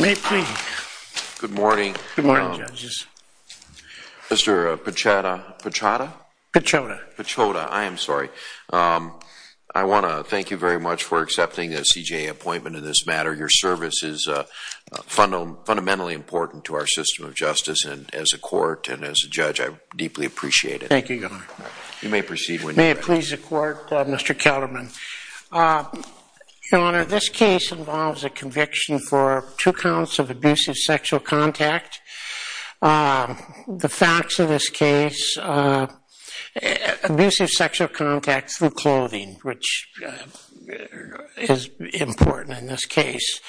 May it please the Court, Mr. Ketterman, Your Honor, this case involves a conviction for two counts of abusive sexual contact. The facts of this case, abusive sexual contact through clothing, which is important in this case,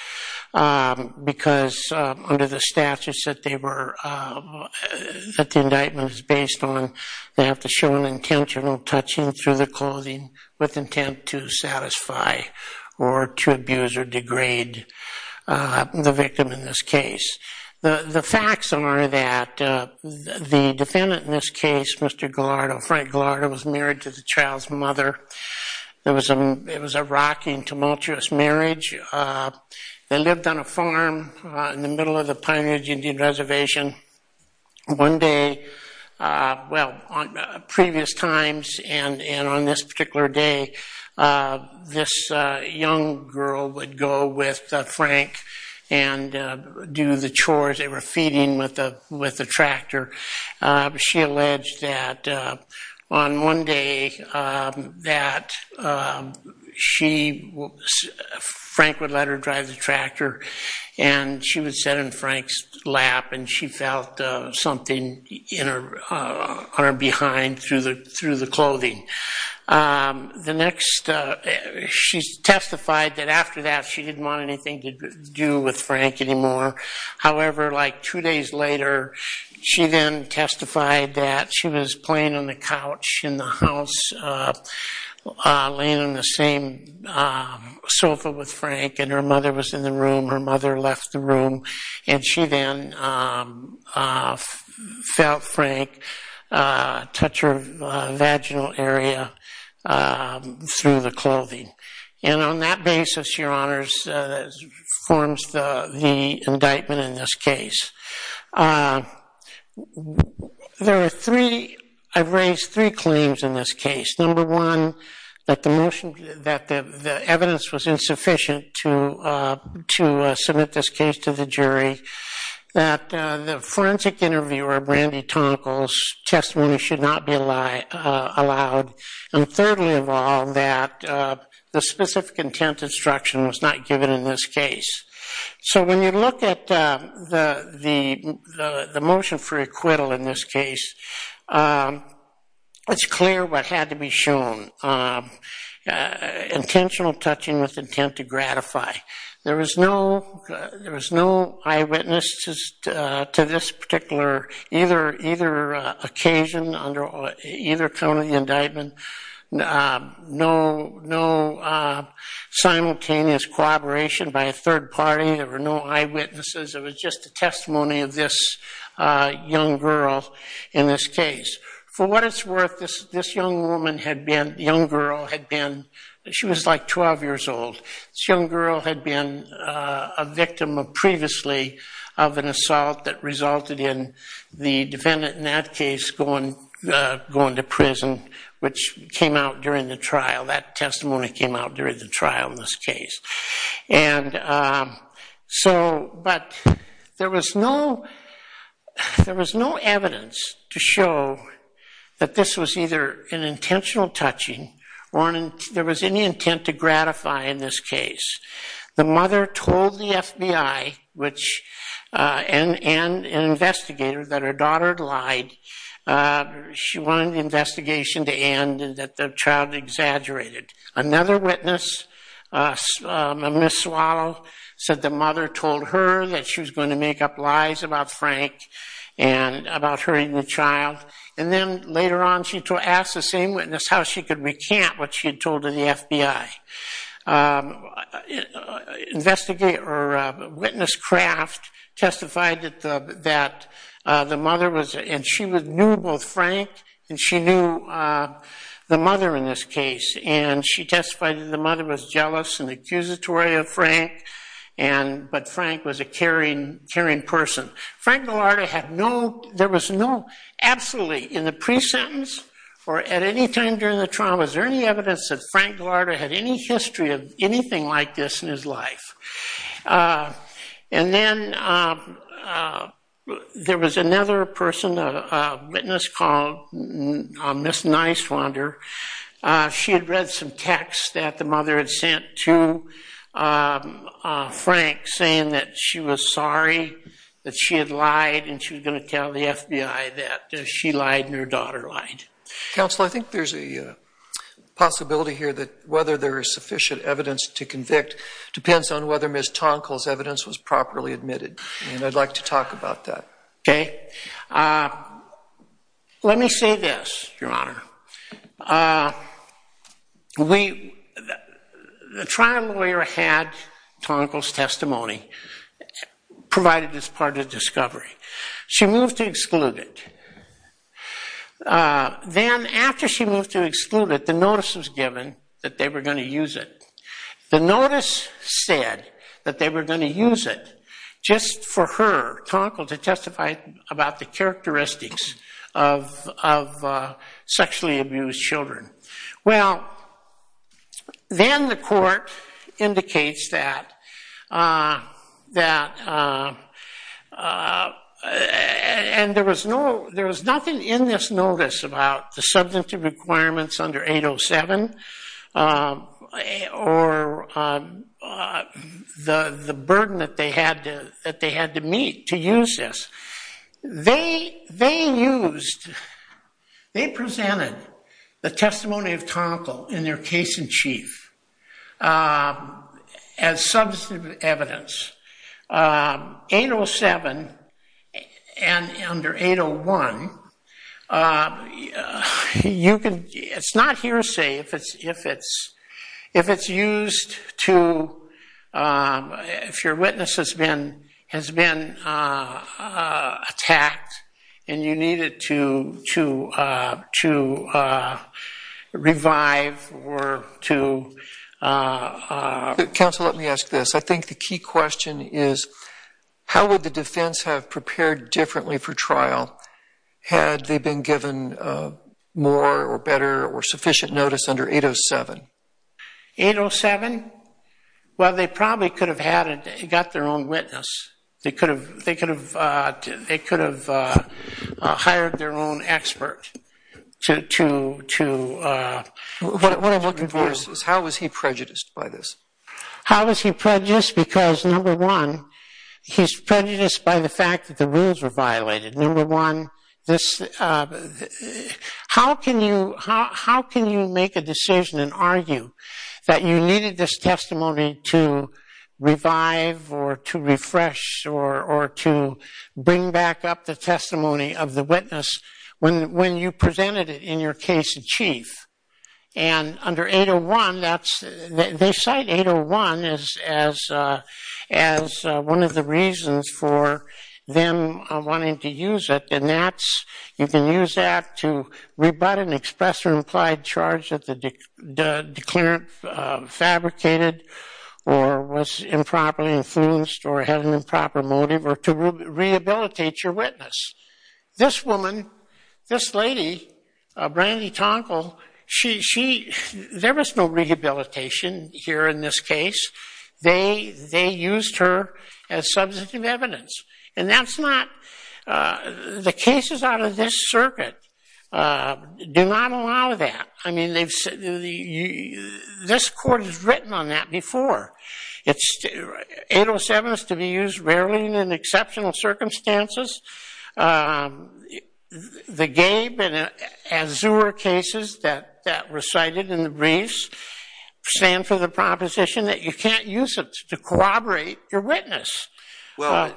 because under the statute that the indictment is based on, they have to show an intentional touching through the clothing with intent to satisfy or to abuse or degrade the victim in this case. The facts are that the defendant in this case, Mr. Gallardo, Frank Gallardo, was married to the child's mother. It was a rocking, tumultuous marriage. They lived on a farm in the middle of the Pine Ridge Indian Reservation. One day, well, previous times and on this particular day, this young girl would go with Frank and do the chores. They were feeding with a tractor. She alleged that on one day that she, Frank would let her drive the tractor and she would sit in Frank's lap and she felt something on her behind through the clothing. The next, she testified that after that she didn't want anything to do with Frank anymore. However, like two days later, she then testified that she was playing on the couch in the house laying on the same sofa with Frank and her mother was in the room. Her mother left the and she then felt Frank touch her vaginal area through the clothing. And on that basis, Your Honors, forms the indictment in this case. There are three, I've raised three claims in this case. Number one, that the motion, that the evidence was insufficient to submit this case to the jury. That the forensic interviewer, Brandy Tonkel's testimony should not be allowed. And thirdly of all, that the specific intent instruction was not given in this case. So when you look at the motion for acquittal in this case, it's clear what had to be shown. Intentional touching with intent to gratify. There was no eyewitnesses to this particular, either occasion under either count of the indictment. No simultaneous corroboration by a third party. There were no eyewitnesses. It was just the testimony of this young girl in this case. For what it's worth, this young woman had been, young girl had been, she was like 12 years old. This young girl had been a victim of previously of an assault that resulted in the defendant in that case going to prison, which came out during the trial. That testimony came out during the trial in this case. And so, but there was no, there was no evidence to show that this was either an intentional touching or there was any intent to gratify in this case. The mother told the FBI, which, and an investigator, that her daughter had lied. She wanted the investigation to end and that the child had exaggerated. Another witness, Ms. Swallow, said the mother told her that she was going to make up lies about Frank and about hurting the child. And then, later on, she asked the same witness how she could recant what she had told to the FBI. A witness, Kraft, testified that the mother was, and she knew both Frank and she knew the mother in this case. And she testified that the mother was jealous and accusatory of Frank, but Frank was a caring person. Frank Gallardo had no, there was no, absolutely in the pre-sentence or at any time during the trial, was there any evidence that Frank Gallardo had any history of anything like this in his life. And then there was another person, a witness called Ms. Niswander. She had read some texts that the mother had sent to Frank saying that she was sorry that she had lied and she was going to tell the FBI that she lied and her daughter lied. Counsel, I think there's a possibility here that whether there is sufficient evidence to convict depends on whether Ms. Tonkel's evidence was properly admitted, and I'd like to talk about that. Okay. Let me say this, Your Honor. The trial lawyer had Tonkel's testimony provided as part of the discovery. She moved to exclude it. Then, after she moved to exclude it, the notice was given that they were going to use it. The notice said that they were going to use it just for her, Tonkel, to testify about the characteristics of sexually abused children. Well, then the court indicates that, and there was nothing in this notice about the substantive requirements under 807 or the burden that they had to meet to use this. They used, they presented the testimony of Tonkel in their case in chief as substantive evidence. 807 and under 801, it's not hearsay if it's used to, if your witness has been attacked and you need it to revive or to... My question is, how would the defense have prepared differently for trial had they been given more or better or sufficient notice under 807? 807? Well, they probably could have had, got their own witness. They could have hired their own expert to... What I'm looking for is how was he prejudiced by this? How was he prejudiced? Because number one, he's prejudiced by the fact that the rules were violated. Number one, how can you make a decision and argue that you needed this testimony to revive or to refresh or to bring back up the testimony of the witness when you presented it in your case in chief? And under 801, that's, they cite 801 as one of the reasons for them wanting to use it and that's, you can use that to rebut an express or implied charge that the declarant fabricated or was improperly influenced or had an improper motive or to rehabilitate your witness. This woman, this lady, Brandy Tonkle, she, there was no rehabilitation here in this case. They used her as substantive evidence. And that's not, the cases out of this circuit do not allow that. I mean, this court has written on that before. 807 is to be used rarely in exceptional circumstances. The Gabe and Azur cases that were cited in the briefs stand for the proposition that you can't use it to corroborate your witness. Well,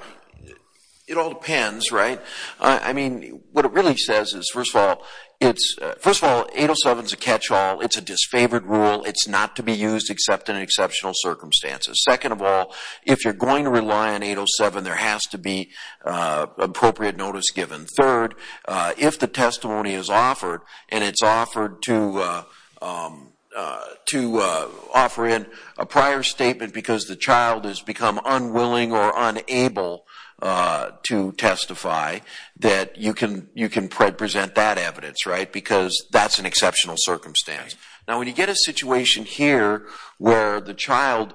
it all depends, right? I mean, what it really says is, first of all, 807 is a catch-all. It's a disfavored rule. It's not to be used except in exceptional circumstances. Second of all, if you're going to rely on 807, there has to be appropriate notice given. Third, if the testimony is offered and it's offered to offer in a prior statement because the child has become unwilling or unable to testify, that you can present that evidence, right? Because that's an exceptional circumstance. Now, when you get a situation here where the child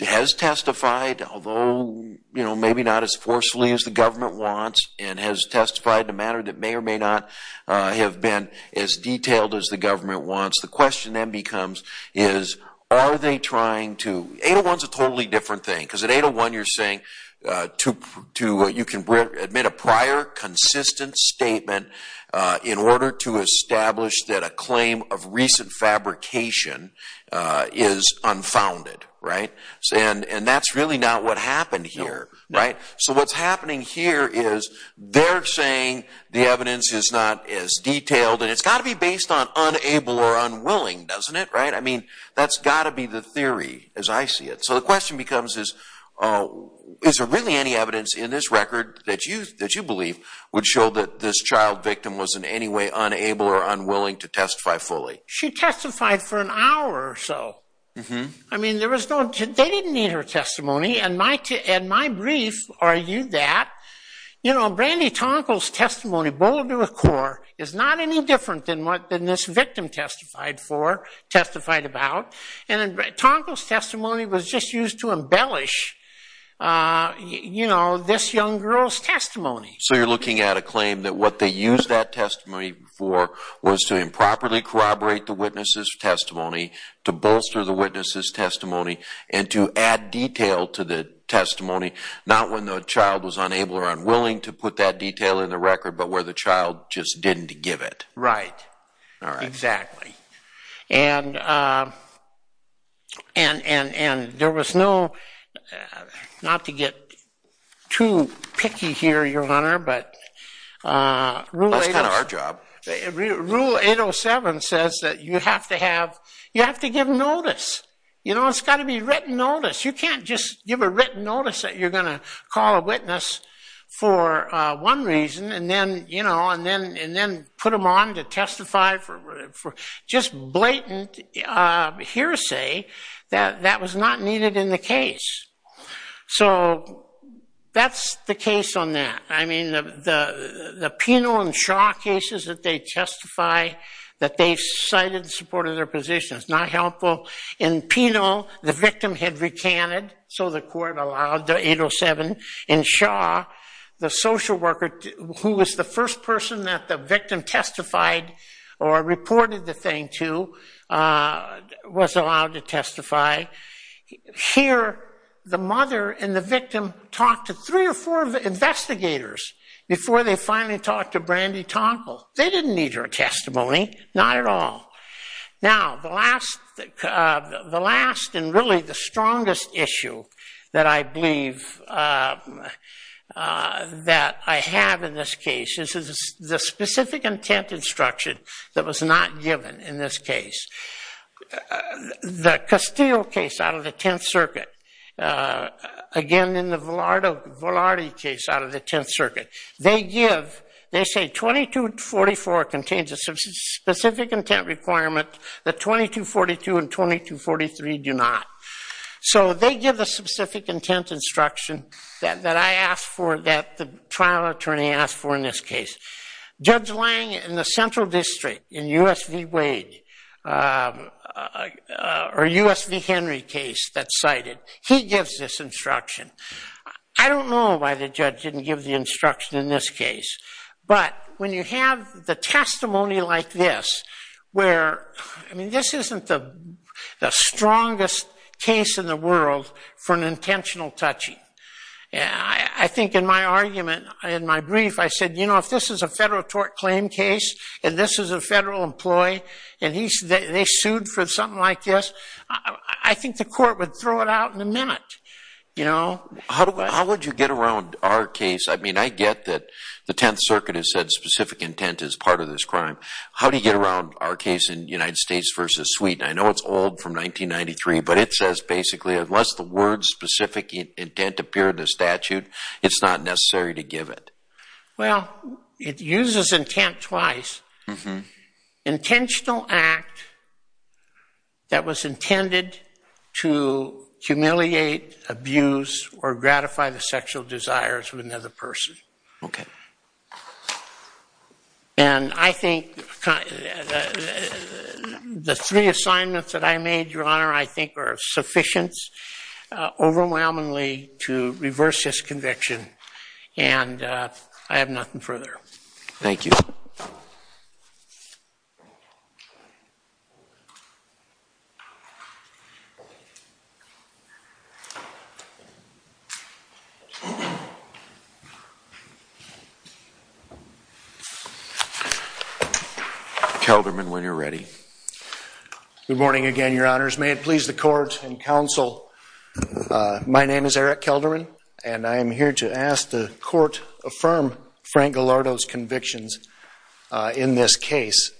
has testified, although maybe not as forcefully as the government wants, and has testified in a manner that may or may not have been as detailed as the government wants, the question then becomes is, are they trying to? 801 is a totally different thing. Because at 801 you're saying you can admit a prior consistent statement in order to establish that a claim of recent fabrication is unfounded, right? And that's really not what happened here, right? So what's happening here is they're saying the evidence is not as detailed, and it's got to be based on unable or unwilling, doesn't it, right? I mean, that's got to be the theory as I see it. So the question becomes is, is there really any evidence in this record that you believe would show that this child victim was in any way unable or unwilling to testify fully? She testified for an hour or so. I mean, they didn't need her testimony, and my brief argued that. You know, Brandy Tonkle's testimony, bold to a core, is not any different than what this victim testified for, testified about. And Tonkle's testimony was just used to embellish this young girl's testimony. So you're looking at a claim that what they used that testimony for was to improperly corroborate the witness's testimony, to bolster the witness's testimony, and to add detail to the testimony, not when the child was unable or unwilling to put that detail in the record, but where the child just didn't give it. Right. Exactly. And there was no, not to get too picky here, Your Honor, but Rule 807 says that you have to have, you have to give notice. You know, it's got to be written notice. You can't just give a written notice that you're going to call a witness for one reason and then, you know, and then put them on to testify for just blatant hearsay. That was not needed in the case. So that's the case on that. I mean, the Penal and Shaw cases that they testify that they cited in support of their position, it's not helpful. In Penal, the victim had recanted, so the court allowed the 807. In Shaw, the social worker who was the first person that the victim testified or reported the thing to was allowed to testify. Here, the mother and the victim talked to three or four investigators before they finally talked to Brandy Tomple. They didn't need her testimony, not at all. Now, the last and really the strongest issue that I believe that I have in this case is the specific intent instruction that was not given in this case. The Castile case out of the Tenth Circuit, again, in the Velarde case out of the Tenth Circuit, they give, they say 2244 contains a specific intent requirement that 2242 and 2243 do not. So they give a specific intent instruction that I asked for, that the trial attorney asked for in this case. Judge Lang in the Central District in U.S. v. Wade or U.S. v. Henry case that's cited, he gives this instruction. I don't know why the judge didn't give the instruction in this case, but when you have the testimony like this where, I mean, this isn't the strongest case in the world for an intentional touching. I think in my argument, in my brief, I said, you know, if this is a federal tort claim case and this is a federal employee and they sued for something like this, I think the court would throw it out in a minute. How would you get around our case? I mean, I get that the Tenth Circuit has said specific intent is part of this crime. How do you get around our case in United States v. Sweden? I know it's old from 1993, but it says basically, unless the words specific intent appear in the statute, it's not necessary to give it. Well, it uses intent twice. Intentional act that was intended to humiliate, abuse, or gratify the sexual desires of another person. Okay. And I think the three assignments that I made, Your Honor, I think are sufficient overwhelmingly to reverse this conviction, and I have nothing further. Thank you. Kelderman, when you're ready. Good morning again, Your Honors. May it please the court and counsel, my name is Eric Kelderman, and I am here to ask the court affirm Frank Gallardo's convictions in this case.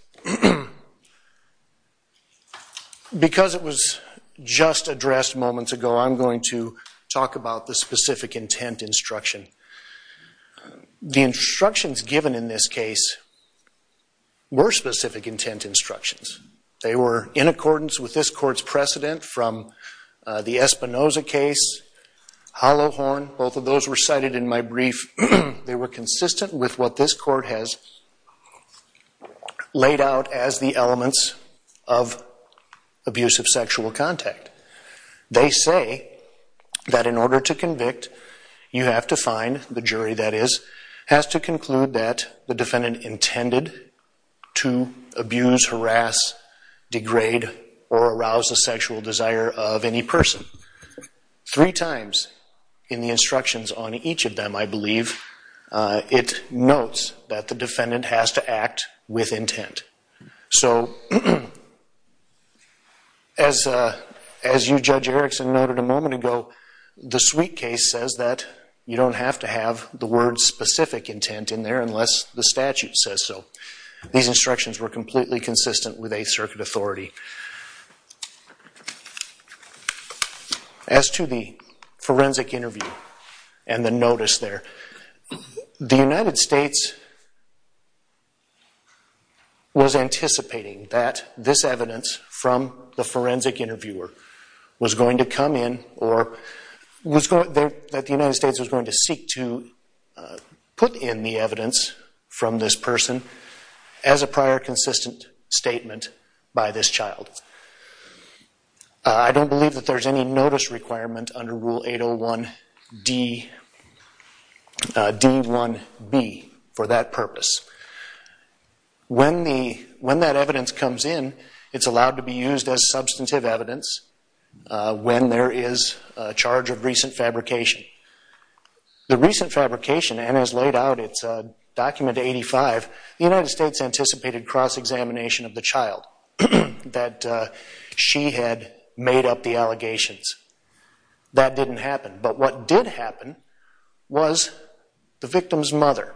Because it was just addressed moments ago, I'm going to talk about the specific intent instruction. The instructions given in this case were specific intent instructions. They were in accordance with this court's precedent from the Espinoza case, Hollow Horn, both of those were cited in my brief. They were consistent with what this court has laid out as the elements of abusive sexual contact. They say that in order to convict, you have to find, the jury that is, has to conclude that the defendant intended to abuse, harass, degrade, or arouse the sexual desire of any person. Three times in the instructions on each of them, I believe, it notes that the defendant has to act with intent. So as you, Judge Erickson, noted a moment ago, the Sweet case says that you don't have to have the word specific intent in there unless the statute says so. These instructions were completely consistent with Eighth Circuit authority. As to the forensic interview and the notice there, the United States was anticipating that this evidence from the forensic interviewer was going to come in, or that the United States was going to seek to put in the evidence from this person as a prior consistent statement by this child. I don't believe that there's any notice requirement under Rule 801D, D1B, for that purpose. When that evidence comes in, it's allowed to be used as substantive evidence when there is a charge of recent fabrication. The recent fabrication, and as laid out, it's Document 85, the United States anticipated cross-examination of the child, that she had made up the allegations. That didn't happen. But what did happen was the victim's mother,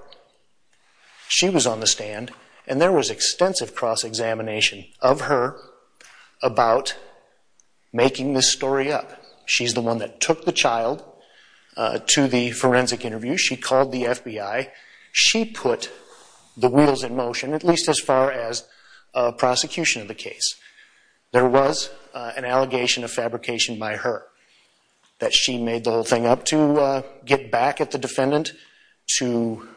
she was on the stand, and there was extensive cross-examination of her about making this story up. She's the one that took the child to the forensic interview. She called the FBI. She put the wheels in motion, at least as far as prosecution of the case. There was an allegation of fabrication by her, that she made the whole thing up to get back at the defendant, to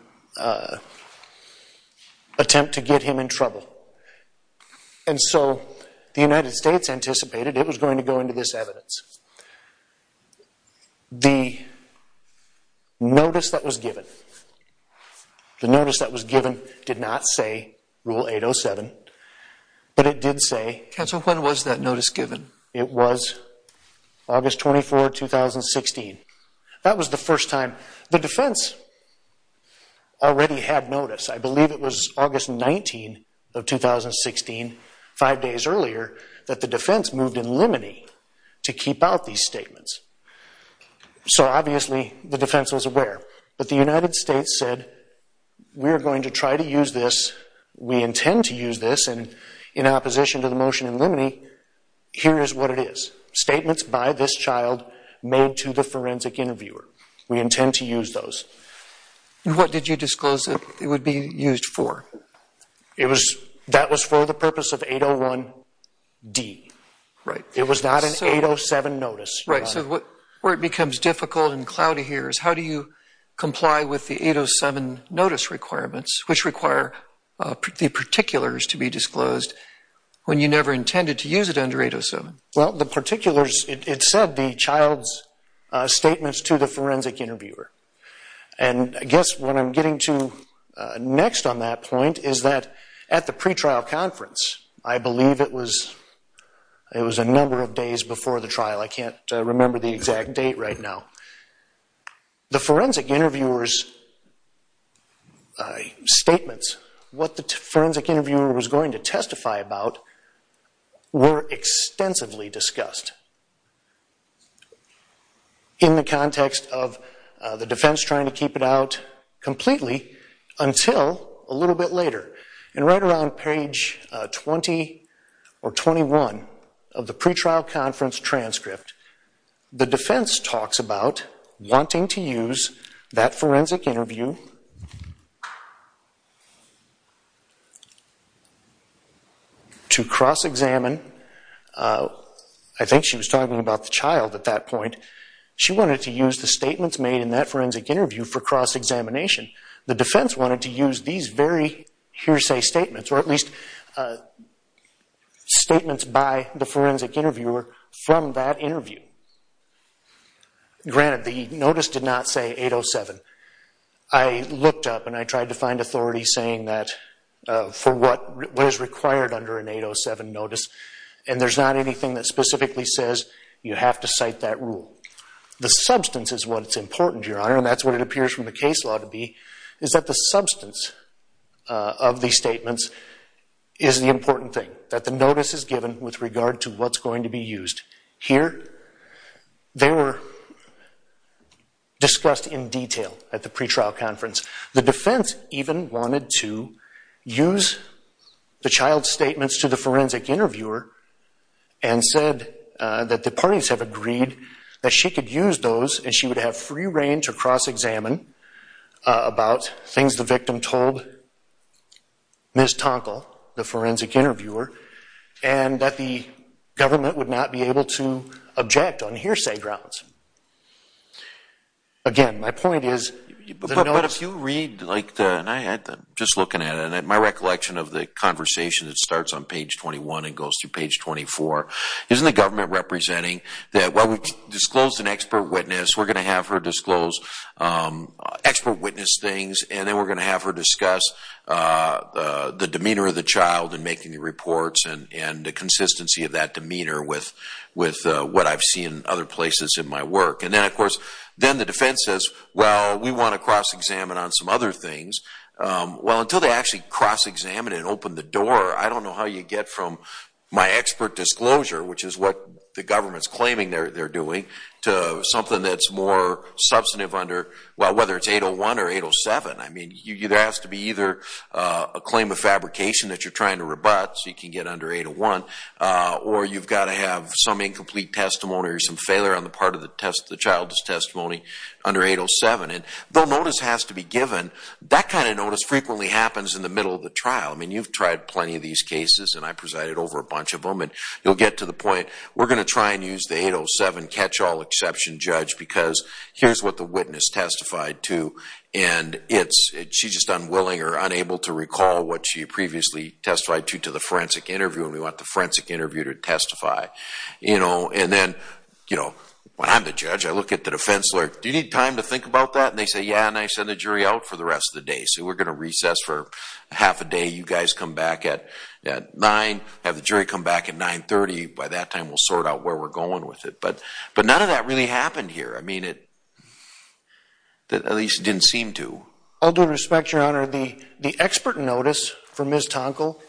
attempt to get him in trouble. And so the United States anticipated it was going to go into this evidence. The notice that was given did not say Rule 807, but it did say— Counsel, when was that notice given? It was August 24, 2016. That was the first time the defense already had notice. I believe it was August 19 of 2016, five days earlier, that the defense moved in limine to keep out these statements. So obviously the defense was aware. But the United States said, we are going to try to use this. We intend to use this. And in opposition to the motion in limine, here is what it is. Statements by this child made to the forensic interviewer. We intend to use those. And what did you disclose it would be used for? That was for the purpose of 801D. It was not an 807 notice. Right. So where it becomes difficult and cloudy here is, how do you comply with the 807 notice requirements, which require the particulars to be disclosed when you never intended to use it under 807? Well, the particulars, it said the child's statements to the forensic interviewer. And I guess what I'm getting to next on that point is that at the pretrial conference, I believe it was a number of days before the trial. I can't remember the exact date right now. The forensic interviewer's statements, what the forensic interviewer was going to testify about, were extensively discussed. In the context of the defense trying to keep it out completely until a little bit later. And right around page 20 or 21 of the pretrial conference transcript, the defense talks about wanting to use that forensic interview to cross-examine. I think she was talking about the child at that point. She wanted to use the statements made in that forensic interview for cross-examination. The defense wanted to use these very hearsay statements, or at least statements by the forensic interviewer from that interview. Granted, the notice did not say 807. I looked up and I tried to find authority saying that for what is required under an 807 notice, and there's not anything that specifically says you have to cite that rule. The substance is what's important, Your Honor, and that's what it appears from the case law to be, is that the substance of these statements is the important thing, that the notice is given with regard to what's going to be used here. They were discussed in detail at the pretrial conference. The defense even wanted to use the child's statements to the forensic interviewer and said that the parties have agreed that she could use those and she would have free reign to cross-examine about things the victim told Ms. Tonkel, the forensic interviewer, and that the government would not be able to object on hearsay grounds. Again, my point is the notice... But if you read, and I'm just looking at it, and my recollection of the conversation that starts on page 21 and goes through page 24, isn't the government representing that while we've disclosed an expert witness, we're going to have her disclose expert witness things, and then we're going to have her discuss the demeanor of the child in making the reports and the consistency of that demeanor with what I've seen in other places in my work. And then, of course, then the defense says, well, we want to cross-examine on some other things. Well, until they actually cross-examine it and open the door, I don't know how you get from my expert disclosure, which is what the government's claiming they're doing, to something that's more substantive under, well, whether it's 801 or 807. I mean, there has to be either a claim of fabrication that you're trying to rebut, so you can get under 801, or you've got to have some incomplete testimony or some failure on the part of the child's testimony under 807. And the notice has to be given. That kind of notice frequently happens in the middle of the trial. I mean, you've tried plenty of these cases, and I presided over a bunch of them, and you'll get to the point, we're going to try and use the 807 catch-all exception judge because here's what the witness testified to, and she's just unwilling or unable to recall what she previously testified to to the forensic interview, and we want the forensic interview to testify. And then, when I'm the judge, I look at the defense lawyer. Do you need time to think about that? And they say, yeah, and I send the jury out for the rest of the day. They say, we're going to recess for half a day. You guys come back at 9, have the jury come back at 930. By that time, we'll sort out where we're going with it. But none of that really happened here. I mean, at least it didn't seem to. All due respect, Your Honor, the expert notice for Ms. Tonkel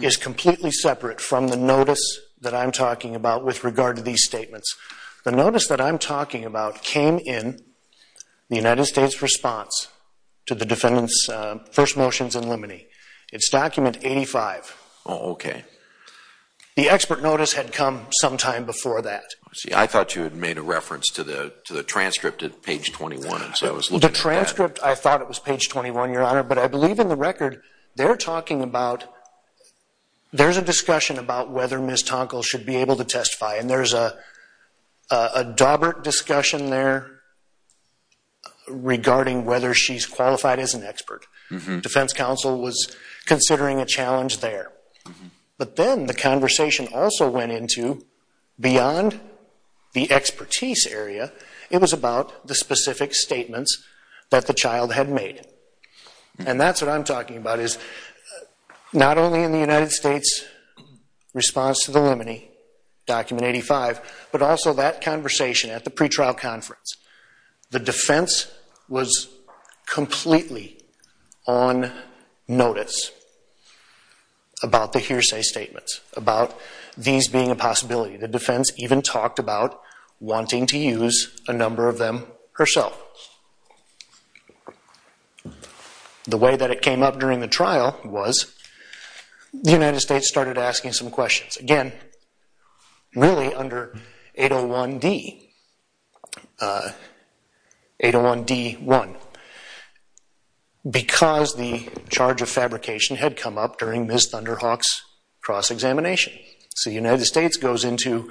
is completely separate from the notice that I'm talking about with regard to these statements. The notice that I'm talking about came in the United States response to the defendant's first motions in limine. It's document 85. Oh, okay. The expert notice had come sometime before that. See, I thought you had made a reference to the transcript at page 21. The transcript, I thought it was page 21, Your Honor, but I believe in the record they're talking about And there's a daubert discussion there regarding whether she's qualified as an expert. Defense counsel was considering a challenge there. But then the conversation also went into beyond the expertise area. It was about the specific statements that the child had made. And that's what I'm talking about is not only in the United States response to the limine, document 85, but also that conversation at the pretrial conference. The defense was completely on notice about the hearsay statements, about these being a possibility. The defense even talked about wanting to use a number of them herself. The way that it came up during the trial was the United States started asking some questions. Again, really under 801D1. Because the charge of fabrication had come up during Ms. Thunderhawk's cross-examination. So the United States goes into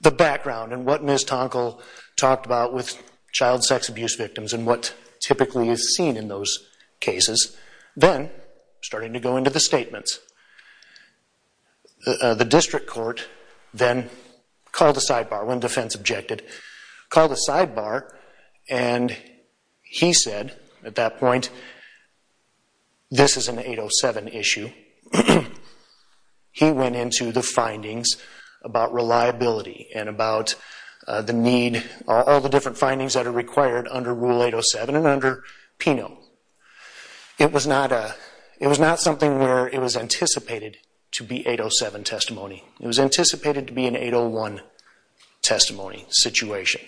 the background and what Ms. Tonkel talked about with child sex abuse victims and what typically is seen in those cases. Then starting to go into the statements. The district court then called a sidebar when defense objected. Called a sidebar and he said at that point, this is an 807 issue. He went into the findings about reliability and about the need, all the different findings that are required under Rule 807 and under PINO. It was not something where it was anticipated to be 807 testimony. It was anticipated to be an 801 testimony situation.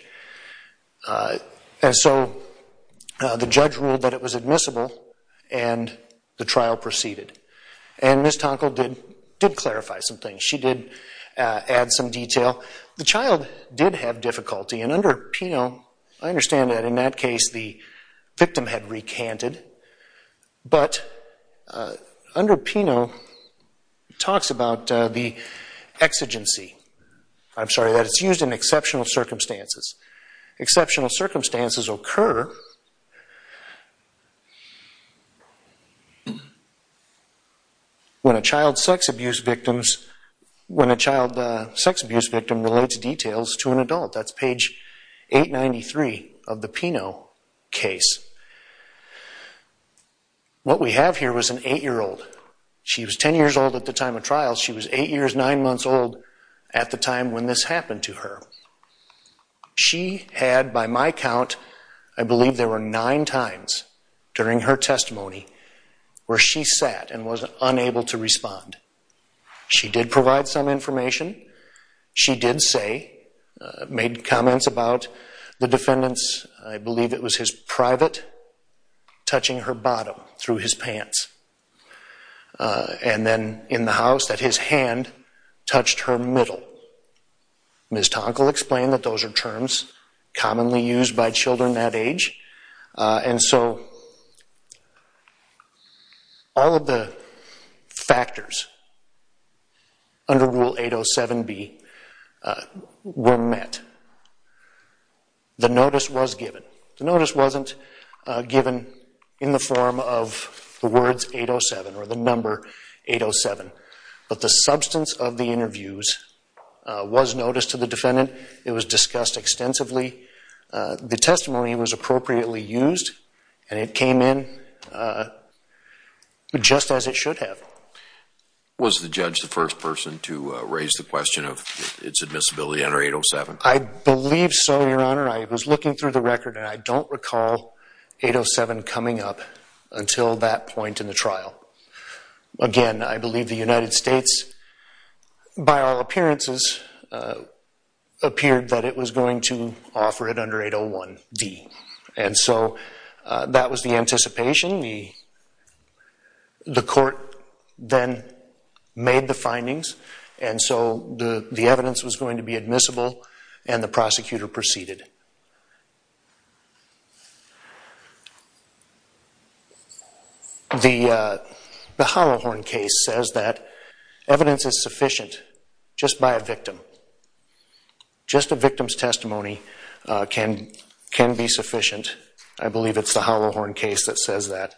So the judge ruled that it was admissible and the trial proceeded. Ms. Tonkel did clarify some things. She did add some detail. The child did have difficulty and under PINO, I understand that in that case, the victim had recanted. But under PINO, it talks about the exigency. I'm sorry, that it's used in exceptional circumstances. Exceptional circumstances occur when a child sex abuse victim relates details to an adult. That's page 893 of the PINO case. What we have here was an eight-year-old. She was ten years old at the time of trial. She was eight years, nine months old at the time when this happened to her. She had, by my count, I believe there were nine times during her testimony where she sat and was unable to respond. She did provide some information. She did say, made comments about the defendant's, I believe it was his private, touching her bottom through his pants. And then in the house that his hand touched her middle. Ms. Tonkel explained that those are terms commonly used by children that age. And so all of the factors under Rule 807B were met. The notice was given. The notice wasn't given in the form of the words 807 or the number 807. But the substance of the interviews was noticed to the defendant. It was discussed extensively. The testimony was appropriately used and it came in just as it should have. Was the judge the first person to raise the question of its admissibility under 807? I believe so, Your Honor. I was looking through the record and I don't recall 807 coming up until that point in the trial. Again, I believe the United States, by all appearances, appeared that it was going to offer it under 801D. And so that was the anticipation. The court then made the findings. And so the evidence was going to be admissible and the prosecutor proceeded. The Holohorn case says that evidence is sufficient just by a victim. Just a victim's testimony can be sufficient. I believe it's the Holohorn case that says that.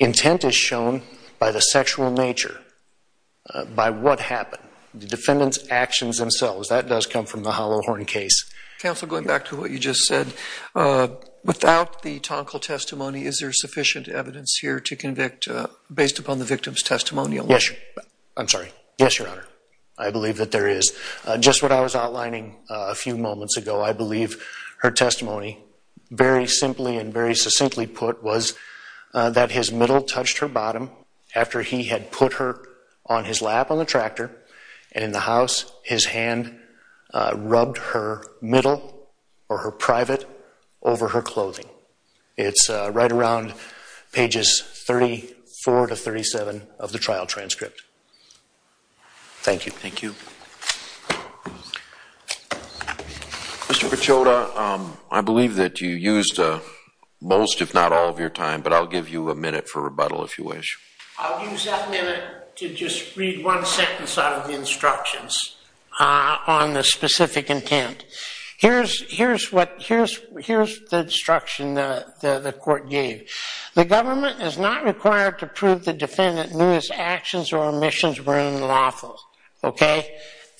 Intent is shown by the sexual nature, by what happened. The defendant's actions themselves, that does come from the Holohorn case. Counsel, going back to what you just said, without the tonkal testimony, is there sufficient evidence here to convict based upon the victim's testimonial? Yes. I'm sorry. Yes, Your Honor. I believe that there is. Just what I was outlining a few moments ago, I believe her testimony, very simply and very succinctly put, was that his middle touched her bottom after he had put her on his lap on the tractor and in the house, his hand rubbed her middle or her private over her clothing. It's right around pages 34 to 37 of the trial transcript. Thank you. Thank you. Mr. Pechota, I believe that you used most, if not all, of your time, but I'll give you a minute for rebuttal if you wish. I'll use that minute to just read one sentence out of the instructions on the specific intent. Here's the instruction the court gave. The government is not required to prove the defendant knew his actions or omissions were unlawful.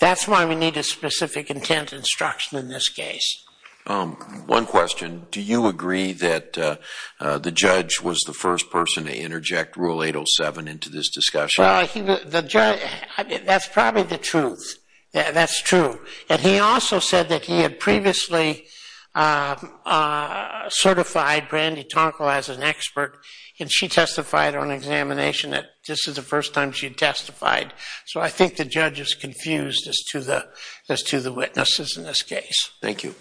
That's why we need a specific intent instruction in this case. One question. Do you agree that the judge was the first person to interject Rule 807 into this discussion? That's probably the truth. That's true. He also said that he had previously certified Brandy Tonko as an expert, and she testified on examination that this is the first time she testified. So I think the judge is confused as to the witnesses in this case. Thank you.